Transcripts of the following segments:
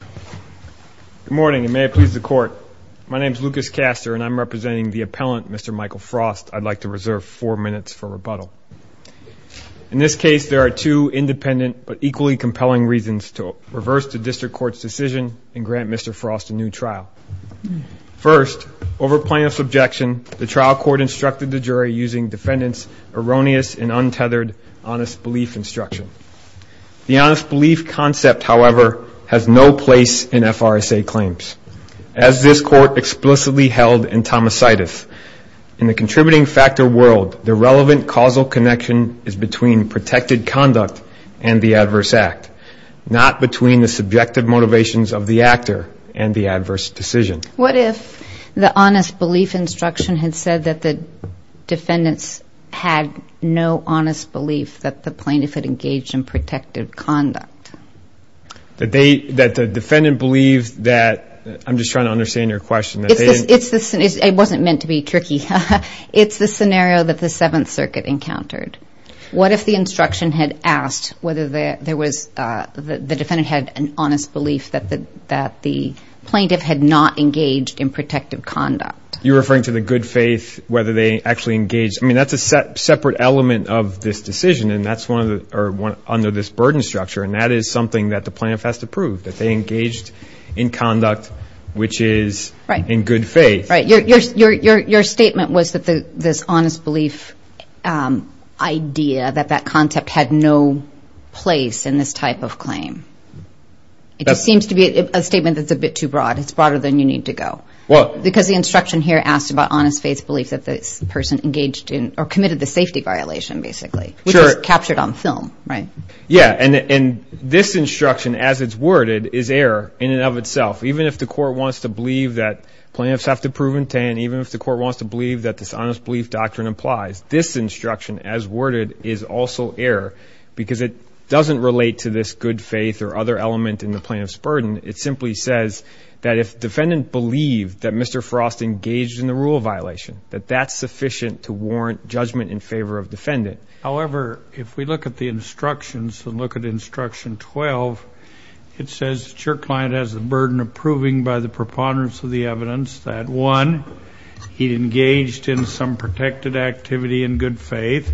Good morning, and may it please the Court. My name is Lucas Castor, and I'm representing the appellant, Mr. Michael Frost. I'd like to reserve four minutes for rebuttal. In this case, there are two independent but equally compelling reasons to reverse the district court's decision and grant Mr. Frost a new trial. First, over plaintiff's objection, the trial court instructed the jury using defendants' erroneous and untethered honest belief instruction. The honest belief concept, however, has no place in FRSA claims. As this Court explicitly held in Tomasidus, in the contributing factor world, the relevant causal connection is between protected conduct and the adverse act, not between the subjective motivations of the actor and the adverse decision. What if the honest belief instruction had said that the defendants had no honest belief that the plaintiff had engaged in protected conduct? That the defendant believed that, I'm just trying to understand your question. It wasn't meant to be tricky. It's the scenario that the Seventh Circuit encountered. What if the instruction had asked whether the defendant had an honest belief that the plaintiff had not engaged in protected conduct? You're referring to the good faith, whether they actually engaged. I mean, that's a separate element of this decision, and that's under this burden structure, and that is something that the plaintiff has to prove, that they engaged in conduct which is in good faith. Right. Your statement was that this honest belief idea, that that concept had no place in this type of claim. It just seems to be a statement that's a bit too broad. It's broader than you need to go. What? Because the instruction here asked about honest faith belief that the person engaged in or committed the safety violation, basically. Sure. Which is captured on film, right? Yeah, and this instruction as it's worded is error in and of itself. Even if the court wants to believe that plaintiffs have to prove intent, even if the court wants to believe that this honest belief doctrine applies, this instruction as worded is also error because it doesn't relate to this good faith or other element in the plaintiff's burden. It simply says that if defendant believed that Mr. Frost engaged in the rule violation, that that's sufficient to warrant judgment in favor of defendant. However, if we look at the instructions and look at instruction 12, it says that your client has the burden of proving by the preponderance of the evidence that one, he engaged in some protected activity in good faith.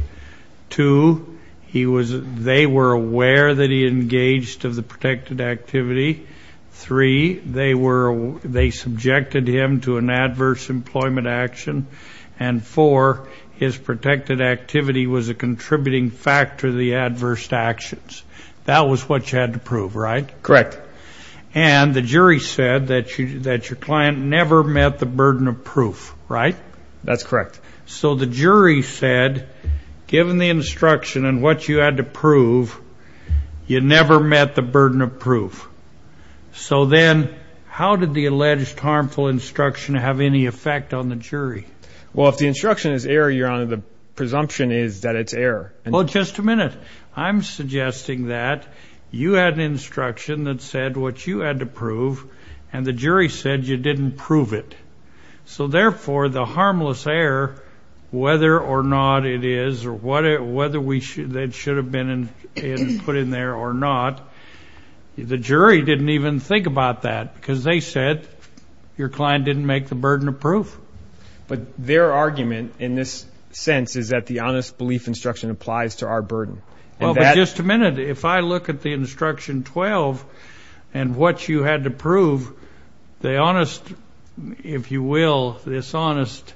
Two, they were aware that he engaged of the protected activity. Three, they subjected him to an adverse employment action. And four, his protected activity was a contributing factor to the adverse actions. That was what you had to prove, right? Correct. And the jury said that your client never met the burden of proof, right? That's correct. So the jury said, given the instruction and what you had to prove, you never met the burden of proof. So then how did the alleged harmful instruction have any effect on the jury? Well, if the instruction is error, Your Honor, the presumption is that it's error. Well, just a minute. I'm suggesting that you had an instruction that said what you had to prove and the jury said you didn't prove it. So, therefore, the harmless error, whether or not it is, or whether it should have been put in there or not, the jury didn't even think about that because they said your client didn't make the burden of proof. But their argument in this sense is that the honest belief instruction applies to our burden. Well, but just a minute. If I look at the instruction 12 and what you had to prove, the honest, if you will, this honest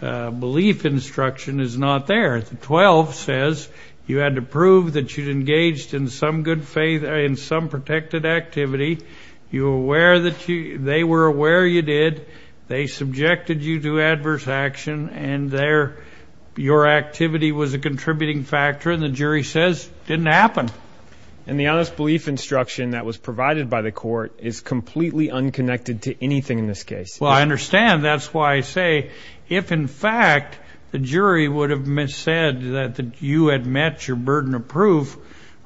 belief instruction is not there. The 12 says you had to prove that you'd engaged in some good faith and some protected activity. You were aware that you they were aware you did. They subjected you to adverse action and there your activity was a contributing factor. And the jury says it didn't happen. And the honest belief instruction that was provided by the court is completely unconnected to anything in this case. Well, I understand. That's why I say if, in fact, the jury would have said that you had met your burden of proof,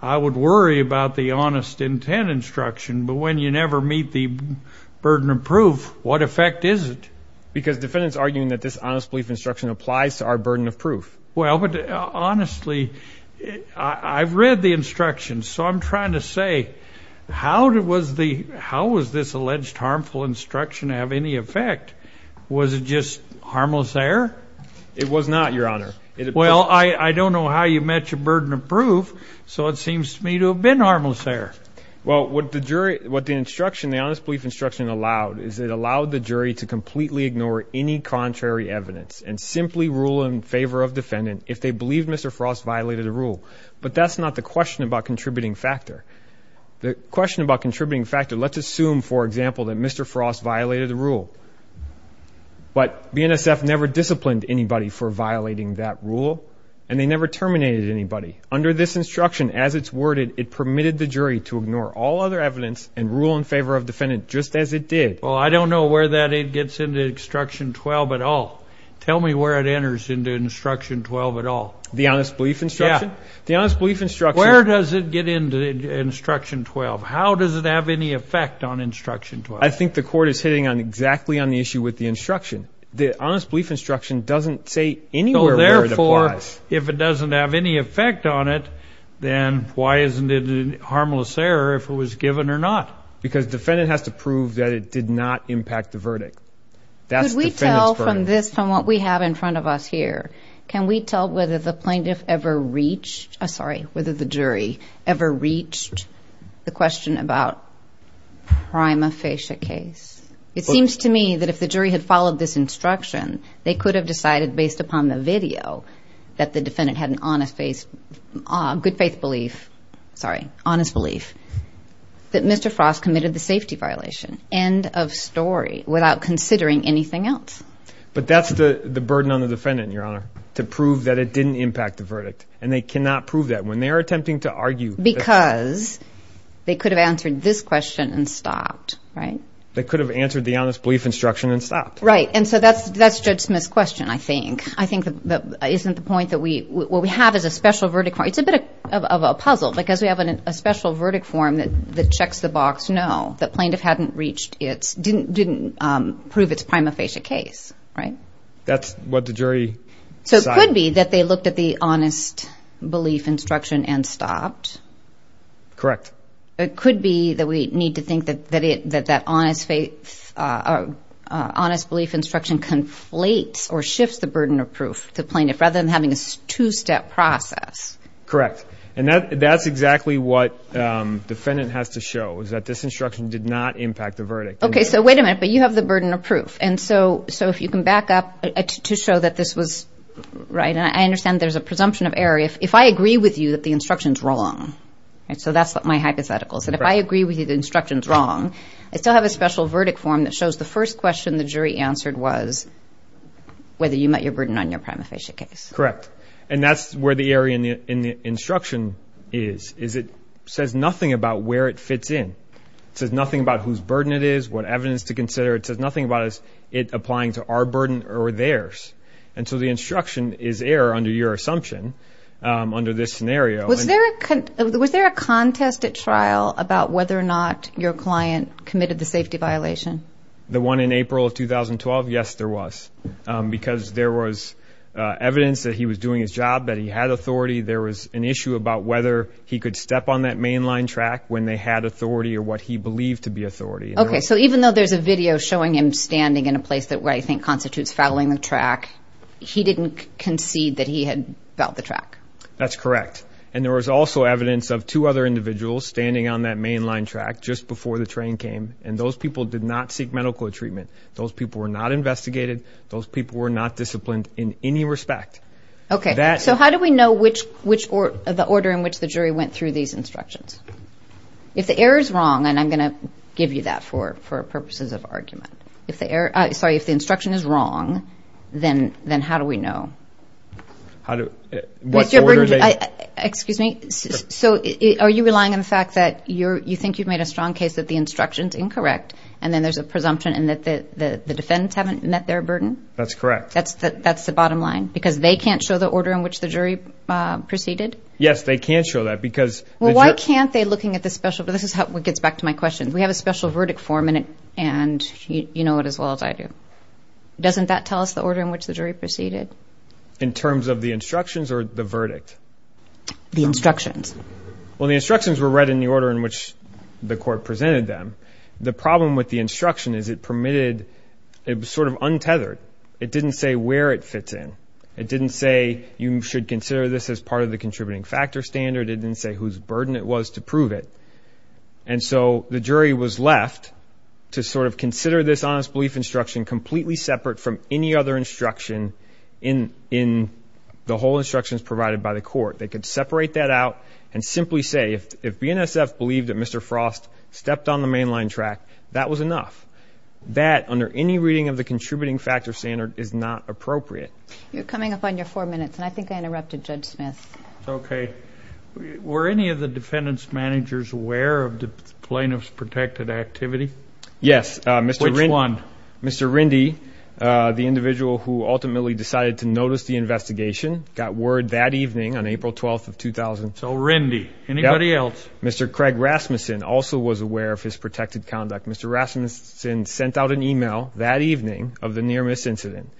I would worry about the honest intent instruction. But when you never meet the burden of proof, what effect is it? Because defendants arguing that this honest belief instruction applies to our burden of proof. Well, but honestly, I've read the instruction. So I'm trying to say, how did it was the how was this alleged harmful instruction have any effect? Was it just harmless there? It was not your honor. Well, I don't know how you met your burden of proof. So it seems to me to have been harmless there. Well, what the jury what the instruction, the honest belief instruction allowed, is it allowed the jury to completely ignore any contrary evidence and simply rule in favor of defendant if they believe Mr. Frost violated a rule. But that's not the question about contributing factor. The question about contributing factor, let's assume, for example, that Mr. Frost violated a rule. But BNSF never disciplined anybody for violating that rule. And they never terminated anybody. Under this instruction, as it's worded, it permitted the jury to ignore all other evidence and rule in favor of defendant just as it did. Well, I don't know where that it gets into instruction 12 at all. Tell me where it enters into instruction 12 at all. The honest belief instruction? Yeah. The honest belief instruction. Where does it get into instruction 12? How does it have any effect on instruction 12? I think the court is hitting on exactly on the issue with the instruction. The honest belief instruction doesn't say anywhere where it applies. If it doesn't have any effect on it, then why isn't it a harmless error if it was given or not? Because defendant has to prove that it did not impact the verdict. Could we tell from this, from what we have in front of us here, can we tell whether the plaintiff ever reached the question about prima facie case? It seems to me that if the jury had followed this instruction, they could have decided based upon the video that the defendant had an honest faith, good faith belief, sorry, honest belief, that Mr. Frost committed the safety violation, end of story, without considering anything else. But that's the burden on the defendant, Your Honor, to prove that it didn't impact the verdict, and they cannot prove that when they are attempting to argue. Because they could have answered this question and stopped, right? They could have answered the honest belief instruction and stopped. Right, and so that's Judge Smith's question, I think. I think that isn't the point that we – what we have is a special verdict. It's a bit of a puzzle because we have a special verdict form that checks the box, no, the plaintiff hadn't reached its – didn't prove its prima facie case, right? That's what the jury decided. So it could be that they looked at the honest belief instruction and stopped. Correct. It could be that we need to think that that honest belief instruction conflates or shifts the burden of proof to the plaintiff rather than having a two-step process. Correct. And that's exactly what the defendant has to show, is that this instruction did not impact the verdict. Okay, so wait a minute, but you have the burden of proof. And so if you can back up to show that this was right, and I understand there's a presumption of error. If I agree with you that the instruction's wrong, so that's my hypothetical, and if I agree with you the instruction's wrong, I still have a special verdict form that shows the first question the jury answered was whether you met your burden on your prima facie case. Correct. And that's where the error in the instruction is, is it says nothing about where it fits in. It says nothing about whose burden it is, what evidence to consider. It says nothing about it applying to our burden or theirs. And so the instruction is error under your assumption under this scenario. Was there a contest at trial about whether or not your client committed the safety violation? The one in April of 2012? Yes, there was, because there was evidence that he was doing his job, that he had authority. There was an issue about whether he could step on that mainline track when they had authority or what he believed to be authority. Okay, so even though there's a video showing him standing in a place that I think constitutes fouling the track, he didn't concede that he had fouled the track. That's correct, and there was also evidence of two other individuals standing on that mainline track just before the train came, and those people did not seek medical treatment. Those people were not investigated. Those people were not disciplined in any respect. Okay, so how do we know the order in which the jury went through these instructions? If the error's wrong, and I'm going to give you that for purposes of argument, sorry, if the instruction is wrong, then how do we know? How do we know? Excuse me? So are you relying on the fact that you think you've made a strong case that the instruction's incorrect and then there's a presumption in that the defendants haven't met their burden? That's correct. That's the bottom line? Because they can't show the order in which the jury proceeded? Yes, they can't show that because the jury Well, why can't they looking at the special, this is how it gets back to my question. We have a special verdict form, and you know it as well as I do. Doesn't that tell us the order in which the jury proceeded? In terms of the instructions or the verdict? The instructions. Well, the instructions were read in the order in which the court presented them. The problem with the instruction is it permitted, it was sort of untethered. It didn't say where it fits in. It didn't say you should consider this as part of the contributing factor standard. It didn't say whose burden it was to prove it. And so the jury was left to sort of consider this honest belief instruction completely separate from any other instruction in the whole instructions provided by the court. They could separate that out and simply say if BNSF believed that Mr. Frost stepped on the mainline track, that was enough. That, under any reading of the contributing factor standard, is not appropriate. You're coming up on your four minutes, and I think I interrupted Judge Smith. Okay. Were any of the defendants' managers aware of the plaintiff's protected activity? Yes. Which one? Mr. Rindy, the individual who ultimately decided to notice the investigation, got word that evening on April 12th of 2000. So Rindy. Anybody else? Mr. Craig Rasmussen also was aware of his protected conduct. Mr. Rasmussen sent out an email that evening of the near-miss incident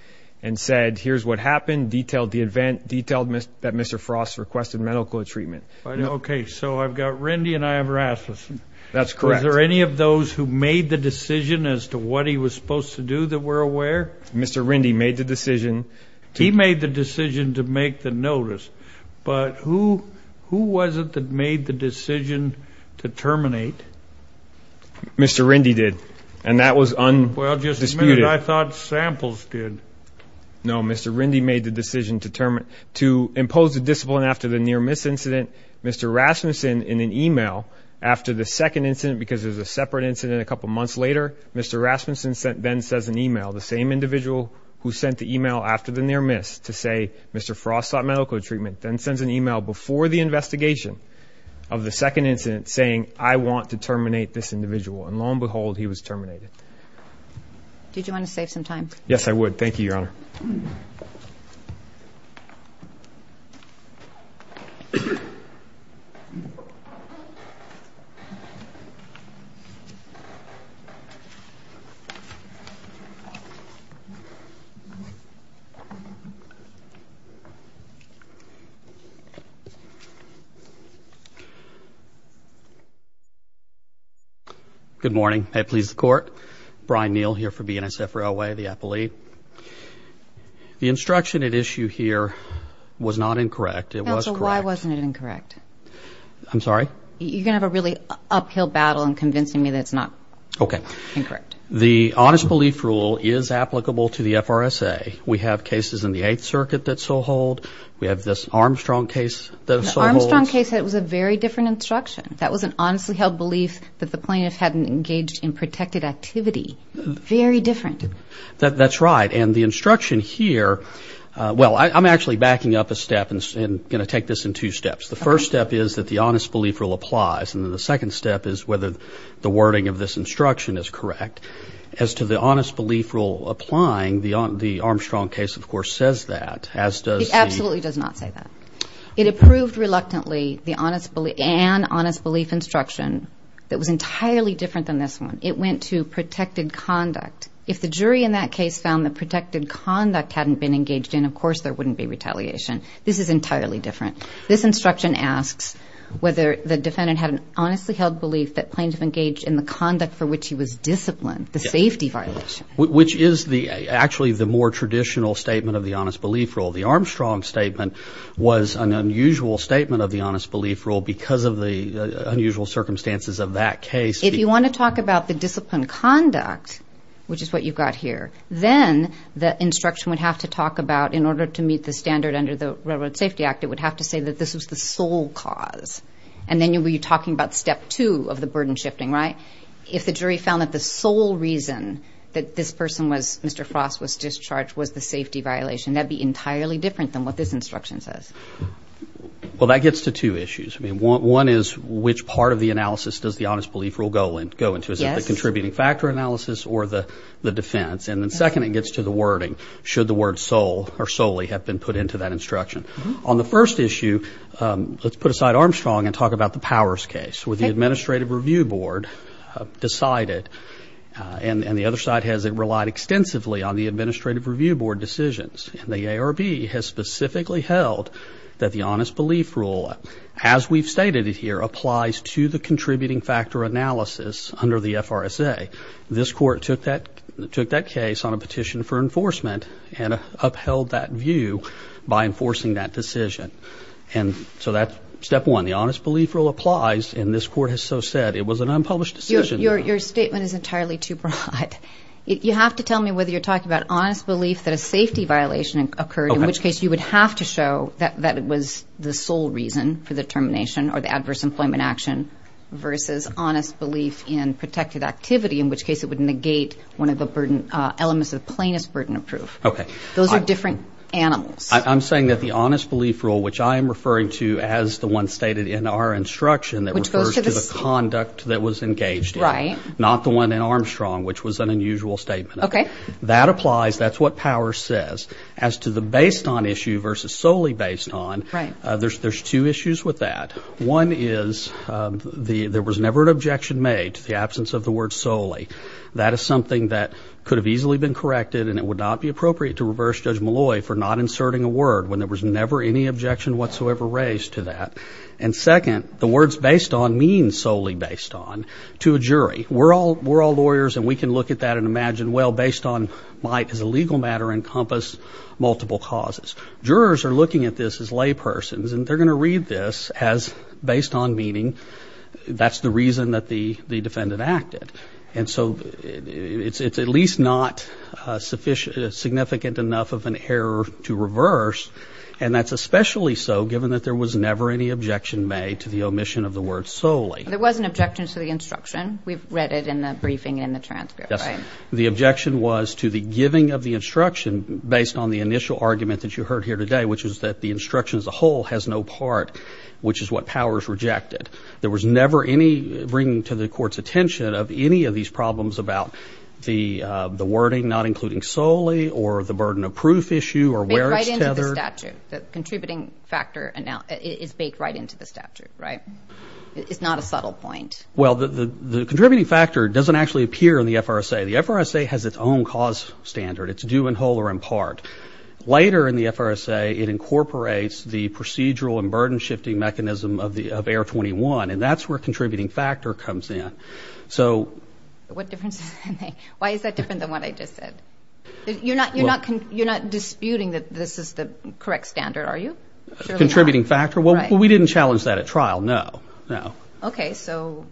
and said, here's what happened, detailed the event, detailed that Mr. Frost requested medical treatment. Okay. So I've got Rindy and I have Rasmussen. That's correct. Was there any of those who made the decision as to what he was supposed to do that were aware? Mr. Rindy made the decision. He made the decision to make the notice. But who was it that made the decision to terminate? Mr. Rindy did, and that was undisputed. Well, just a minute. I thought samples did. No, Mr. Rindy made the decision to impose a discipline after the near-miss incident. Mr. Rasmussen, in an email after the second incident, because there's a separate incident a couple months later, Mr. Rasmussen then sends an email, the same individual who sent the email after the near-miss, to say Mr. Frost sought medical treatment, then sends an email before the investigation of the second incident saying, I want to terminate this individual. And lo and behold, he was terminated. Did you want to save some time? Yes, I would. Thank you, Your Honor. Good morning. May it please the Court. Brian Neal here for BNSF Railway, the appellee. The instruction at issue here was not incorrect. It was correct. Why wasn't it incorrect? I'm sorry? You're going to have a really uphill battle in convincing me that it's not incorrect. The honest belief rule is applicable to the FRSA. We have cases in the Eighth Circuit that so hold. We have this Armstrong case that so holds. The Armstrong case, it was a very different instruction. That was an honestly held belief that the plaintiff hadn't engaged in protected activity. Very different. That's right. And the instruction here, well, I'm actually backing up a step and going to take this in two steps. The first step is that the honest belief rule applies, and then the second step is whether the wording of this instruction is correct. As to the honest belief rule applying, the Armstrong case, of course, says that, as does the – It absolutely does not say that. It approved reluctantly the honest – an honest belief instruction that was entirely different than this one. It went to protected conduct. If the jury in that case found that protected conduct hadn't been engaged in, of course, there wouldn't be retaliation. This is entirely different. This instruction asks whether the defendant had an honestly held belief that plaintiff engaged in the conduct for which he was disciplined, the safety violation. Which is actually the more traditional statement of the honest belief rule. The Armstrong statement was an unusual statement of the honest belief rule because of the unusual circumstances of that case. If you want to talk about the disciplined conduct, which is what you've got here, then the instruction would have to talk about, in order to meet the standard under the Railroad Safety Act, it would have to say that this was the sole cause. And then you'll be talking about step two of the burden shifting, right? If the jury found that the sole reason that this person was – Mr. Frost was discharged was the safety violation, that would be entirely different than what this instruction says. Well, that gets to two issues. I mean, one is which part of the analysis does the honest belief rule go into. Is it the contributing factor analysis or the defense? And then second, it gets to the wording. Should the word sole or solely have been put into that instruction? On the first issue, let's put aside Armstrong and talk about the Powers case. With the Administrative Review Board decided, and the other side has relied extensively on the Administrative Review Board decisions, and the ARB has specifically held that the honest belief rule, as we've stated it here, applies to the contributing factor analysis under the FRSA. This court took that case on a petition for enforcement and upheld that view by enforcing that decision. And so that's step one. The honest belief rule applies, and this court has so said it was an unpublished decision. Your statement is entirely too broad. You have to tell me whether you're talking about honest belief that a safety violation occurred, in which case you would have to show that that was the sole reason for the termination or the adverse employment action versus honest belief in protected activity, in which case it would negate one of the elements of the plainest burden of proof. Okay. Those are different animals. I'm saying that the honest belief rule, which I am referring to as the one stated in our instruction, refers to the conduct that was engaged in, not the one in Armstrong, which was an unusual statement. That applies. That's what power says. As to the based on issue versus solely based on, there's two issues with that. One is there was never an objection made to the absence of the word solely. That is something that could have easily been corrected, and it would not be appropriate to reverse Judge Malloy for not inserting a word when there was never any objection whatsoever raised to that. And, second, the words based on mean solely based on to a jury. We're all lawyers, and we can look at that and imagine, well, based on might as a legal matter encompass multiple causes. Jurors are looking at this as laypersons, and they're going to read this as based on meaning. That's the reason that the defendant acted. And so it's at least not significant enough of an error to reverse, and that's especially so given that there was never any objection made to the omission of the word solely. There was an objection to the instruction. We've read it in the briefing and in the transcript, right? Yes. The objection was to the giving of the instruction based on the initial argument that you heard here today, which is that the instruction as a whole has no part, which is what power has rejected. There was never any bringing to the court's attention of any of these problems about the wording not including solely or the burden of proof issue or where it's tethered. Baked right into the statute. The contributing factor is baked right into the statute, right? It's not a subtle point. Well, the contributing factor doesn't actually appear in the FRSA. The FRSA has its own cause standard. It's due in whole or in part. Later in the FRSA, it incorporates the procedural and burden-shifting mechanism of AIR-21, and that's where contributing factor comes in. So what difference does that make? Why is that different than what I just said? You're not disputing that this is the correct standard, are you? Contributing factor? Well, we didn't challenge that at trial, no. Okay, so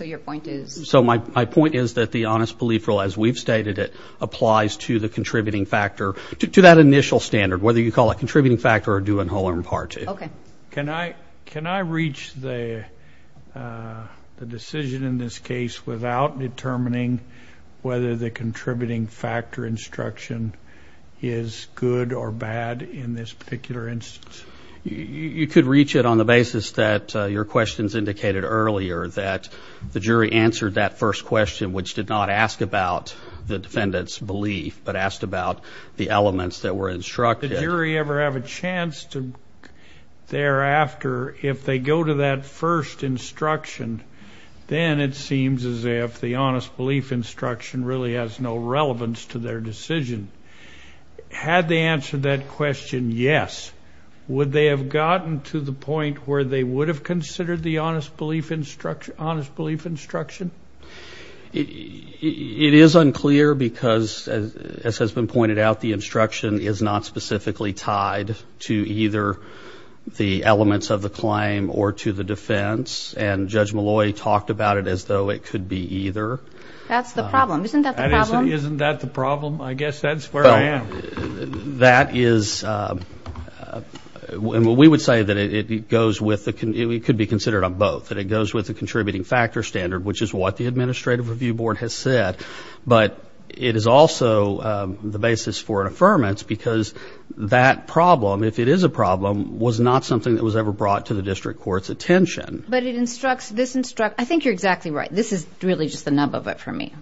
your point is? So my point is that the honest belief rule, as we've stated it, applies to the contributing factor, to that initial standard, whether you call it contributing factor or due in whole or in part. Okay. Can I reach the decision in this case without determining whether the contributing factor instruction is good or bad in this particular instance? You could reach it on the basis that your questions indicated earlier, that the jury answered that first question, which did not ask about the defendant's belief, but asked about the elements that were instructed. Did the jury ever have a chance to, thereafter, if they go to that first instruction, then it seems as if the honest belief instruction really has no relevance to their decision. Had they answered that question yes, would they have gotten to the point where they would have considered the honest belief instruction? It is unclear because, as has been pointed out, the instruction is not specifically tied to either the elements of the claim or to the defense, and Judge Malloy talked about it as though it could be either. That's the problem. Isn't that the problem? Isn't that the problem? I guess that's where I am. That is, and we would say that it goes with, it could be considered on both, that it goes with the contributing factor standard, which is what the Administrative Review Board has said, but it is also the basis for an affirmance because that problem, if it is a problem, was not something that was ever brought to the district court's attention. But it instructs, this instructs, I think you're exactly right. This is really just the nub of it for me.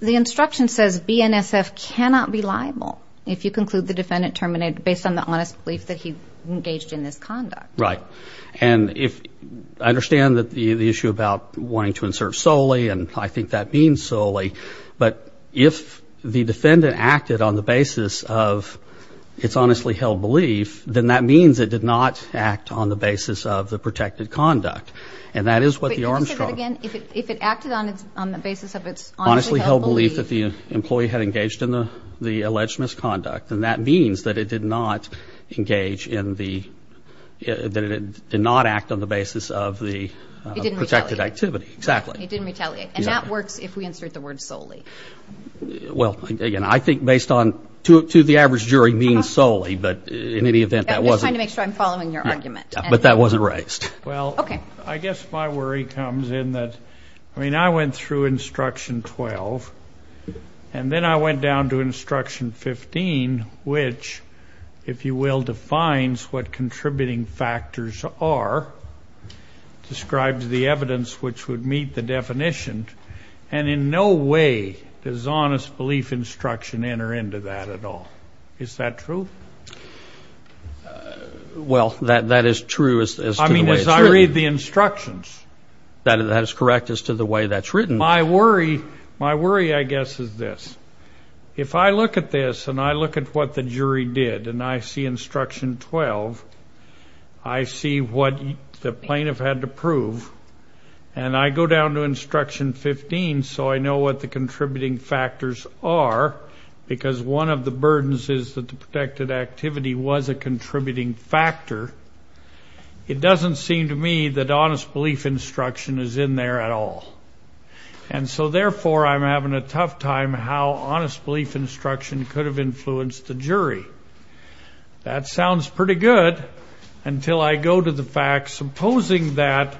The instruction says BNSF cannot be liable if you conclude the defendant terminated based on the honest belief that he engaged in this conduct. Right. And if, I understand the issue about wanting to insert solely, and I think that means solely, but if the defendant acted on the basis of its honestly held belief, then that means it did not act on the basis of the protected conduct. And that is what the Armstrong. Can you say that again? If it acted on the basis of its honestly held belief. Honestly held belief that the employee had engaged in the alleged misconduct, then that means that it did not engage in the, that it did not act on the basis of the. It didn't retaliate. Protected activity. Exactly. It didn't retaliate. And that works if we insert the word solely. Well, again, I think based on, to the average jury means solely, but in any event that wasn't. I'm just trying to make sure I'm following your argument. But that wasn't raised. Well. Okay. I guess my worry comes in that, I mean, I went through instruction 12, and then I went down to instruction 15, which, if you will, defines what contributing factors are, describes the evidence which would meet the definition, and in no way does honest belief instruction enter into that at all. Is that true? Well, that is true as to the way it's written. I mean, as I read the instructions. That is correct as to the way that's written. My worry, I guess, is this. If I look at this, and I look at what the jury did, and I see instruction 12, I see what the plaintiff had to prove, and I go down to instruction 15 so I know what the contributing factors are, because one of the burdens is that the protected activity was a contributing factor, it doesn't seem to me that honest belief instruction is in there at all. And so, therefore, I'm having a tough time how honest belief instruction could have influenced the jury. That sounds pretty good until I go to the fact, supposing that,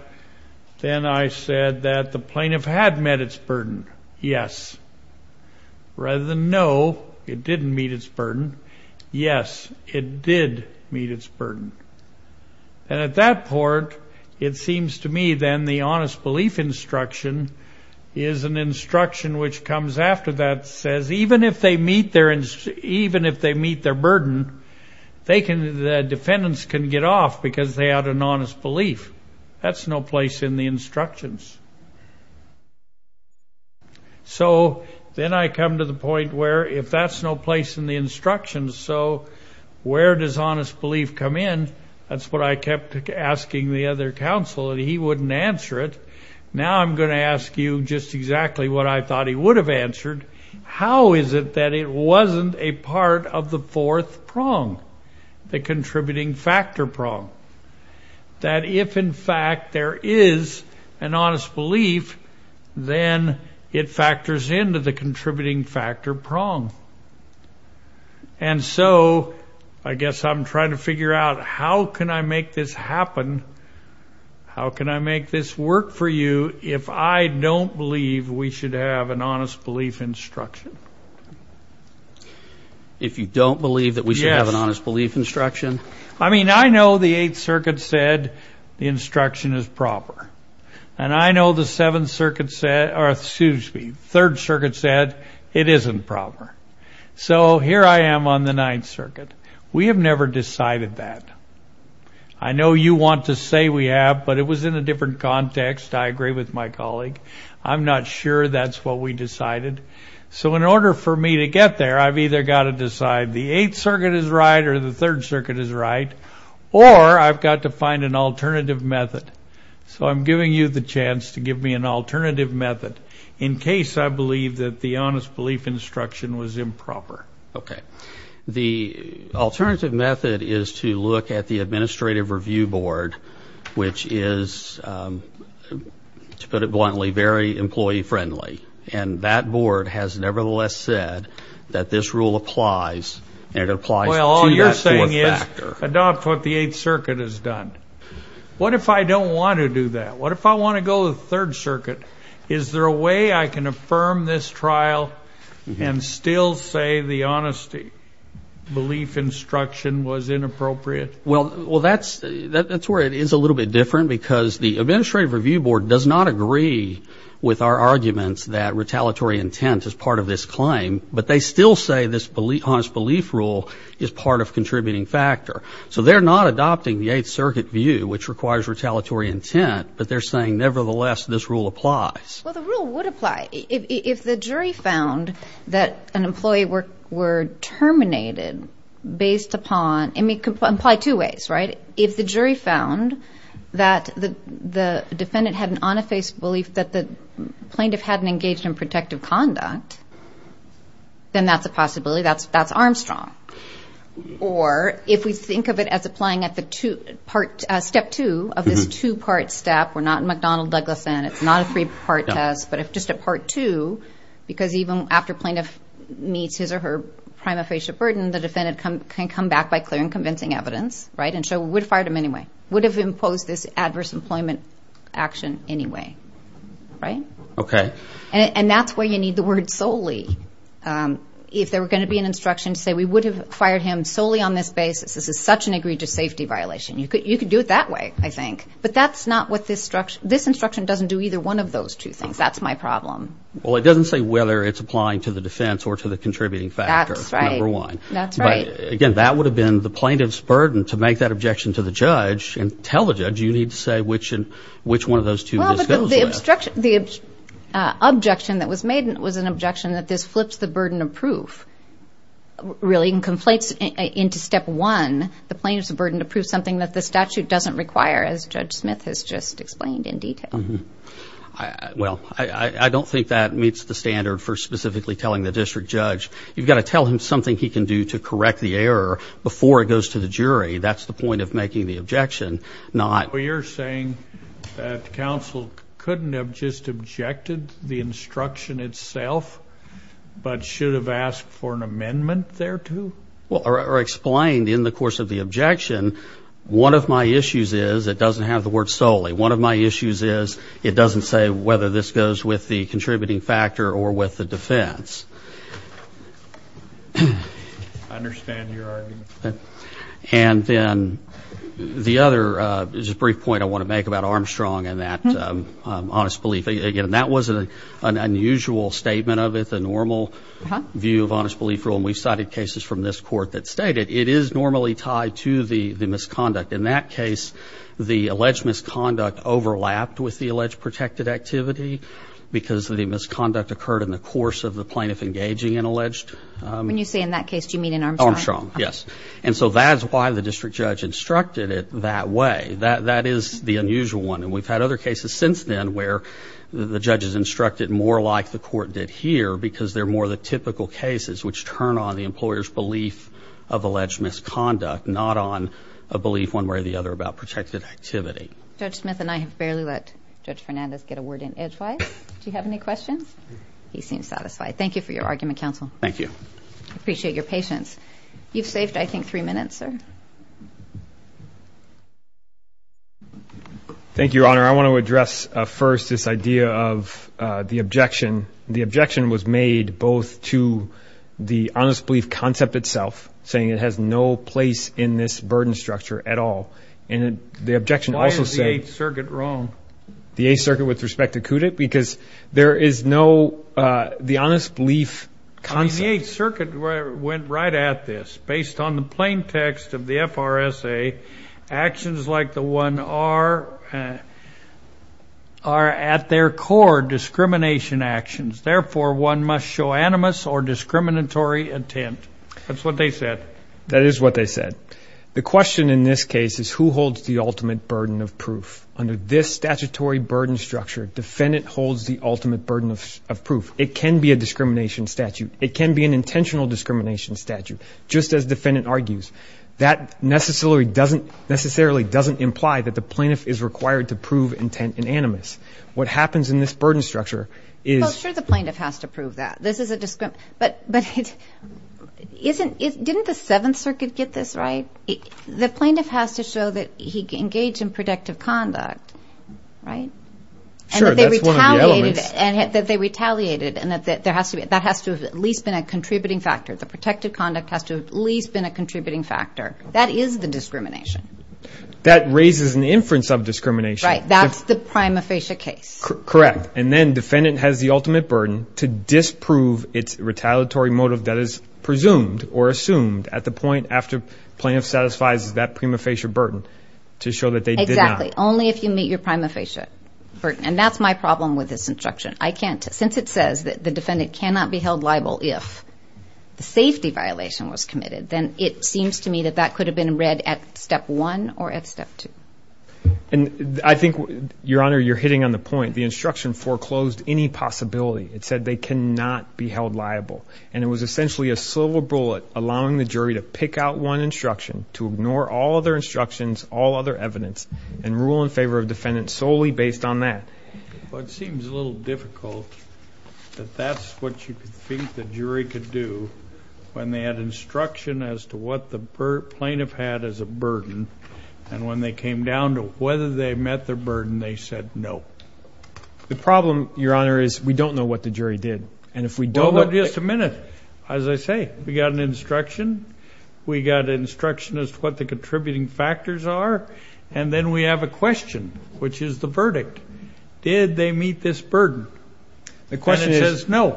then I said that the plaintiff had met its burden. Yes. Rather than no, it didn't meet its burden. Yes, it did meet its burden. And at that point, it seems to me then the honest belief instruction is an instruction which comes after that says even if they meet their burden, the defendants can get off because they had an honest belief. That's no place in the instructions. So, then I come to the point where if that's no place in the instructions, so where does honest belief come in? That's what I kept asking the other counsel, and he wouldn't answer it. Now I'm going to ask you just exactly what I thought he would have answered. How is it that it wasn't a part of the fourth prong, the contributing factor prong? That if, in fact, there is an honest belief, then it factors into the contributing factor prong. And so, I guess I'm trying to figure out how can I make this happen, how can I make this work for you if I don't believe we should have an honest belief instruction? If you don't believe that we should have an honest belief instruction? I mean, I know the Eighth Circuit said the instruction is proper, and I know the Third Circuit said it isn't proper. So, here I am on the Ninth Circuit. We have never decided that. I know you want to say we have, but it was in a different context. I agree with my colleague. I'm not sure that's what we decided. So, in order for me to get there, I've either got to decide the Eighth Circuit is right or the Third Circuit is right, or I've got to find an alternative method. So, I'm giving you the chance to give me an alternative method in case I believe that the honest belief instruction was improper. Okay. The alternative method is to look at the Administrative Review Board, which is, to put it bluntly, very employee-friendly. And that board has nevertheless said that this rule applies, and it applies to that fourth factor. Well, all you're saying is adopt what the Eighth Circuit has done. What if I don't want to do that? What if I want to go to the Third Circuit? Is there a way I can affirm this trial and still say the honesty belief instruction was inappropriate? Well, that's where it is a little bit different, because the Administrative Review Board does not agree with our arguments that retaliatory intent is part of this claim, but they still say this honest belief rule is part of contributing factor. So, they're not adopting the Eighth Circuit view, which requires retaliatory intent, but they're saying, nevertheless, this rule applies. Well, the rule would apply. If the jury found that an employee were terminated based upon – I mean, it could apply two ways, right? If the jury found that the defendant had an on-the-face belief that the plaintiff hadn't engaged in protective conduct, then that's a possibility. That's Armstrong. Or if we think of it as applying at the step two of this two-part step, we're not in McDonnell-Douglas then, it's not a three-part test, but if just a part two, because even after plaintiff meets his or her prima facie burden, the defendant can come back by clear and convincing evidence, right? And so, we would have fired him anyway. We would have imposed this adverse employment action anyway, right? Okay. And that's where you need the word solely. If there were going to be an instruction to say we would have fired him solely on this basis, this is such an egregious safety violation, you could do it that way, I think. But that's not what this instruction – this instruction doesn't do either one of those two things. That's my problem. Well, it doesn't say whether it's applying to the defense or to the contributing factor, number one. That's right. But, again, that would have been the plaintiff's burden to make that objection to the judge and tell the judge you need to say which one of those two this goes with. Well, but the objection that was made was an objection that this flips the burden of proof, really, and conflates into step one, the plaintiff's burden to prove something that the statute doesn't require, as Judge Smith has just explained in detail. Well, I don't think that meets the standard for specifically telling the district judge. You've got to tell him something he can do to correct the error before it goes to the jury. That's the point of making the objection, not – Well, you're saying that counsel couldn't have just objected to the instruction itself but should have asked for an amendment thereto? Well, or explained in the course of the objection, one of my issues is it doesn't have the word solely. One of my issues is it doesn't say whether this goes with the contributing factor or with the defense. I understand your argument. And then the other – just a brief point I want to make about Armstrong and that honest belief. Again, that was an unusual statement of it, the normal view of honest belief rule, and we've cited cases from this court that state it. It is normally tied to the misconduct. In that case, the alleged misconduct overlapped with the alleged protected activity because the misconduct occurred in the course of the plaintiff engaging in alleged – When you say in that case, do you mean in Armstrong? Armstrong, yes. And so that's why the district judge instructed it that way. That is the unusual one. And we've had other cases since then where the judge has instructed more like the court did here because they're more the typical cases which turn on the employer's belief of alleged misconduct, not on a belief one way or the other about protected activity. Judge Smith and I have barely let Judge Fernandez get a word in edgewise. Do you have any questions? He seems satisfied. Thank you for your argument, counsel. Thank you. I appreciate your patience. You've saved, I think, three minutes, sir. Thank you, Your Honor. I want to address first this idea of the objection. The objection was made both to the honest belief concept itself, saying it has no place in this burden structure at all, and the objection also said – Why is the Eighth Circuit wrong? The Eighth Circuit with respect to CUDIT? Because there is no the honest belief concept. I mean, the Eighth Circuit went right at this. Based on the plain text of the FRSA, actions like the one are at their core discrimination actions. Therefore, one must show animus or discriminatory intent. That's what they said. That is what they said. The question in this case is who holds the ultimate burden of proof. Under this statutory burden structure, defendant holds the ultimate burden of proof. It can be a discrimination statute. It can be an intentional discrimination statute, just as defendant argues. That necessarily doesn't imply that the plaintiff is required to prove intent and animus. What happens in this burden structure is – Well, sure, the plaintiff has to prove that. But didn't the Seventh Circuit get this right? The plaintiff has to show that he engaged in protective conduct, right? Sure, that's one of the elements. And that they retaliated, and that has to have at least been a contributing factor. The protective conduct has to have at least been a contributing factor. That is the discrimination. That raises an inference of discrimination. Right, that's the prima facie case. Correct. And then defendant has the ultimate burden to disprove its retaliatory motive that is presumed or assumed at the point after plaintiff satisfies that prima facie burden to show that they did not. Exactly. Only if you meet your prima facie burden. And that's my problem with this instruction. Since it says that the defendant cannot be held liable if the safety violation was committed, then it seems to me that that could have been read at Step 1 or at Step 2. And I think, Your Honor, you're hitting on the point. The instruction foreclosed any possibility. It said they cannot be held liable. And it was essentially a silver bullet allowing the jury to pick out one instruction, to ignore all other instructions, all other evidence, and rule in favor of defendant solely based on that. Well, it seems a little difficult that that's what you think the jury could do when they had instruction as to what the plaintiff had as a burden, and when they came down to whether they met their burden, they said no. The problem, Your Honor, is we don't know what the jury did. And if we don't know what the jury did. Well, just a minute. As I say, we got an instruction. We got an instruction as to what the contributing factors are. And then we have a question, which is the verdict. Did they meet this burden? And it says no. The question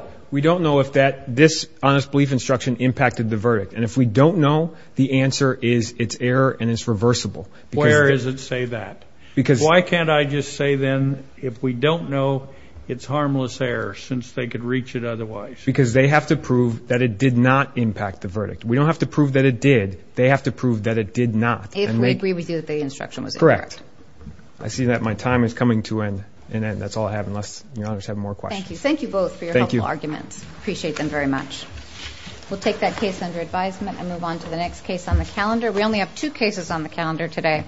is we don't know if this honest belief instruction impacted the verdict. And if we don't know, the answer is it's error and it's reversible. Where does it say that? Why can't I just say then if we don't know, it's harmless error, since they could reach it otherwise? Because they have to prove that it did not impact the verdict. We don't have to prove that it did. They have to prove that it did not. If we agree with you that the instruction was incorrect. Correct. I see that my time is coming to an end. That's all I have unless Your Honor has more questions. Thank you. Thank you both for your helpful arguments. Appreciate them very much. We'll take that case under advisement and move on to the next case on the calendar. We only have two cases on the calendar today.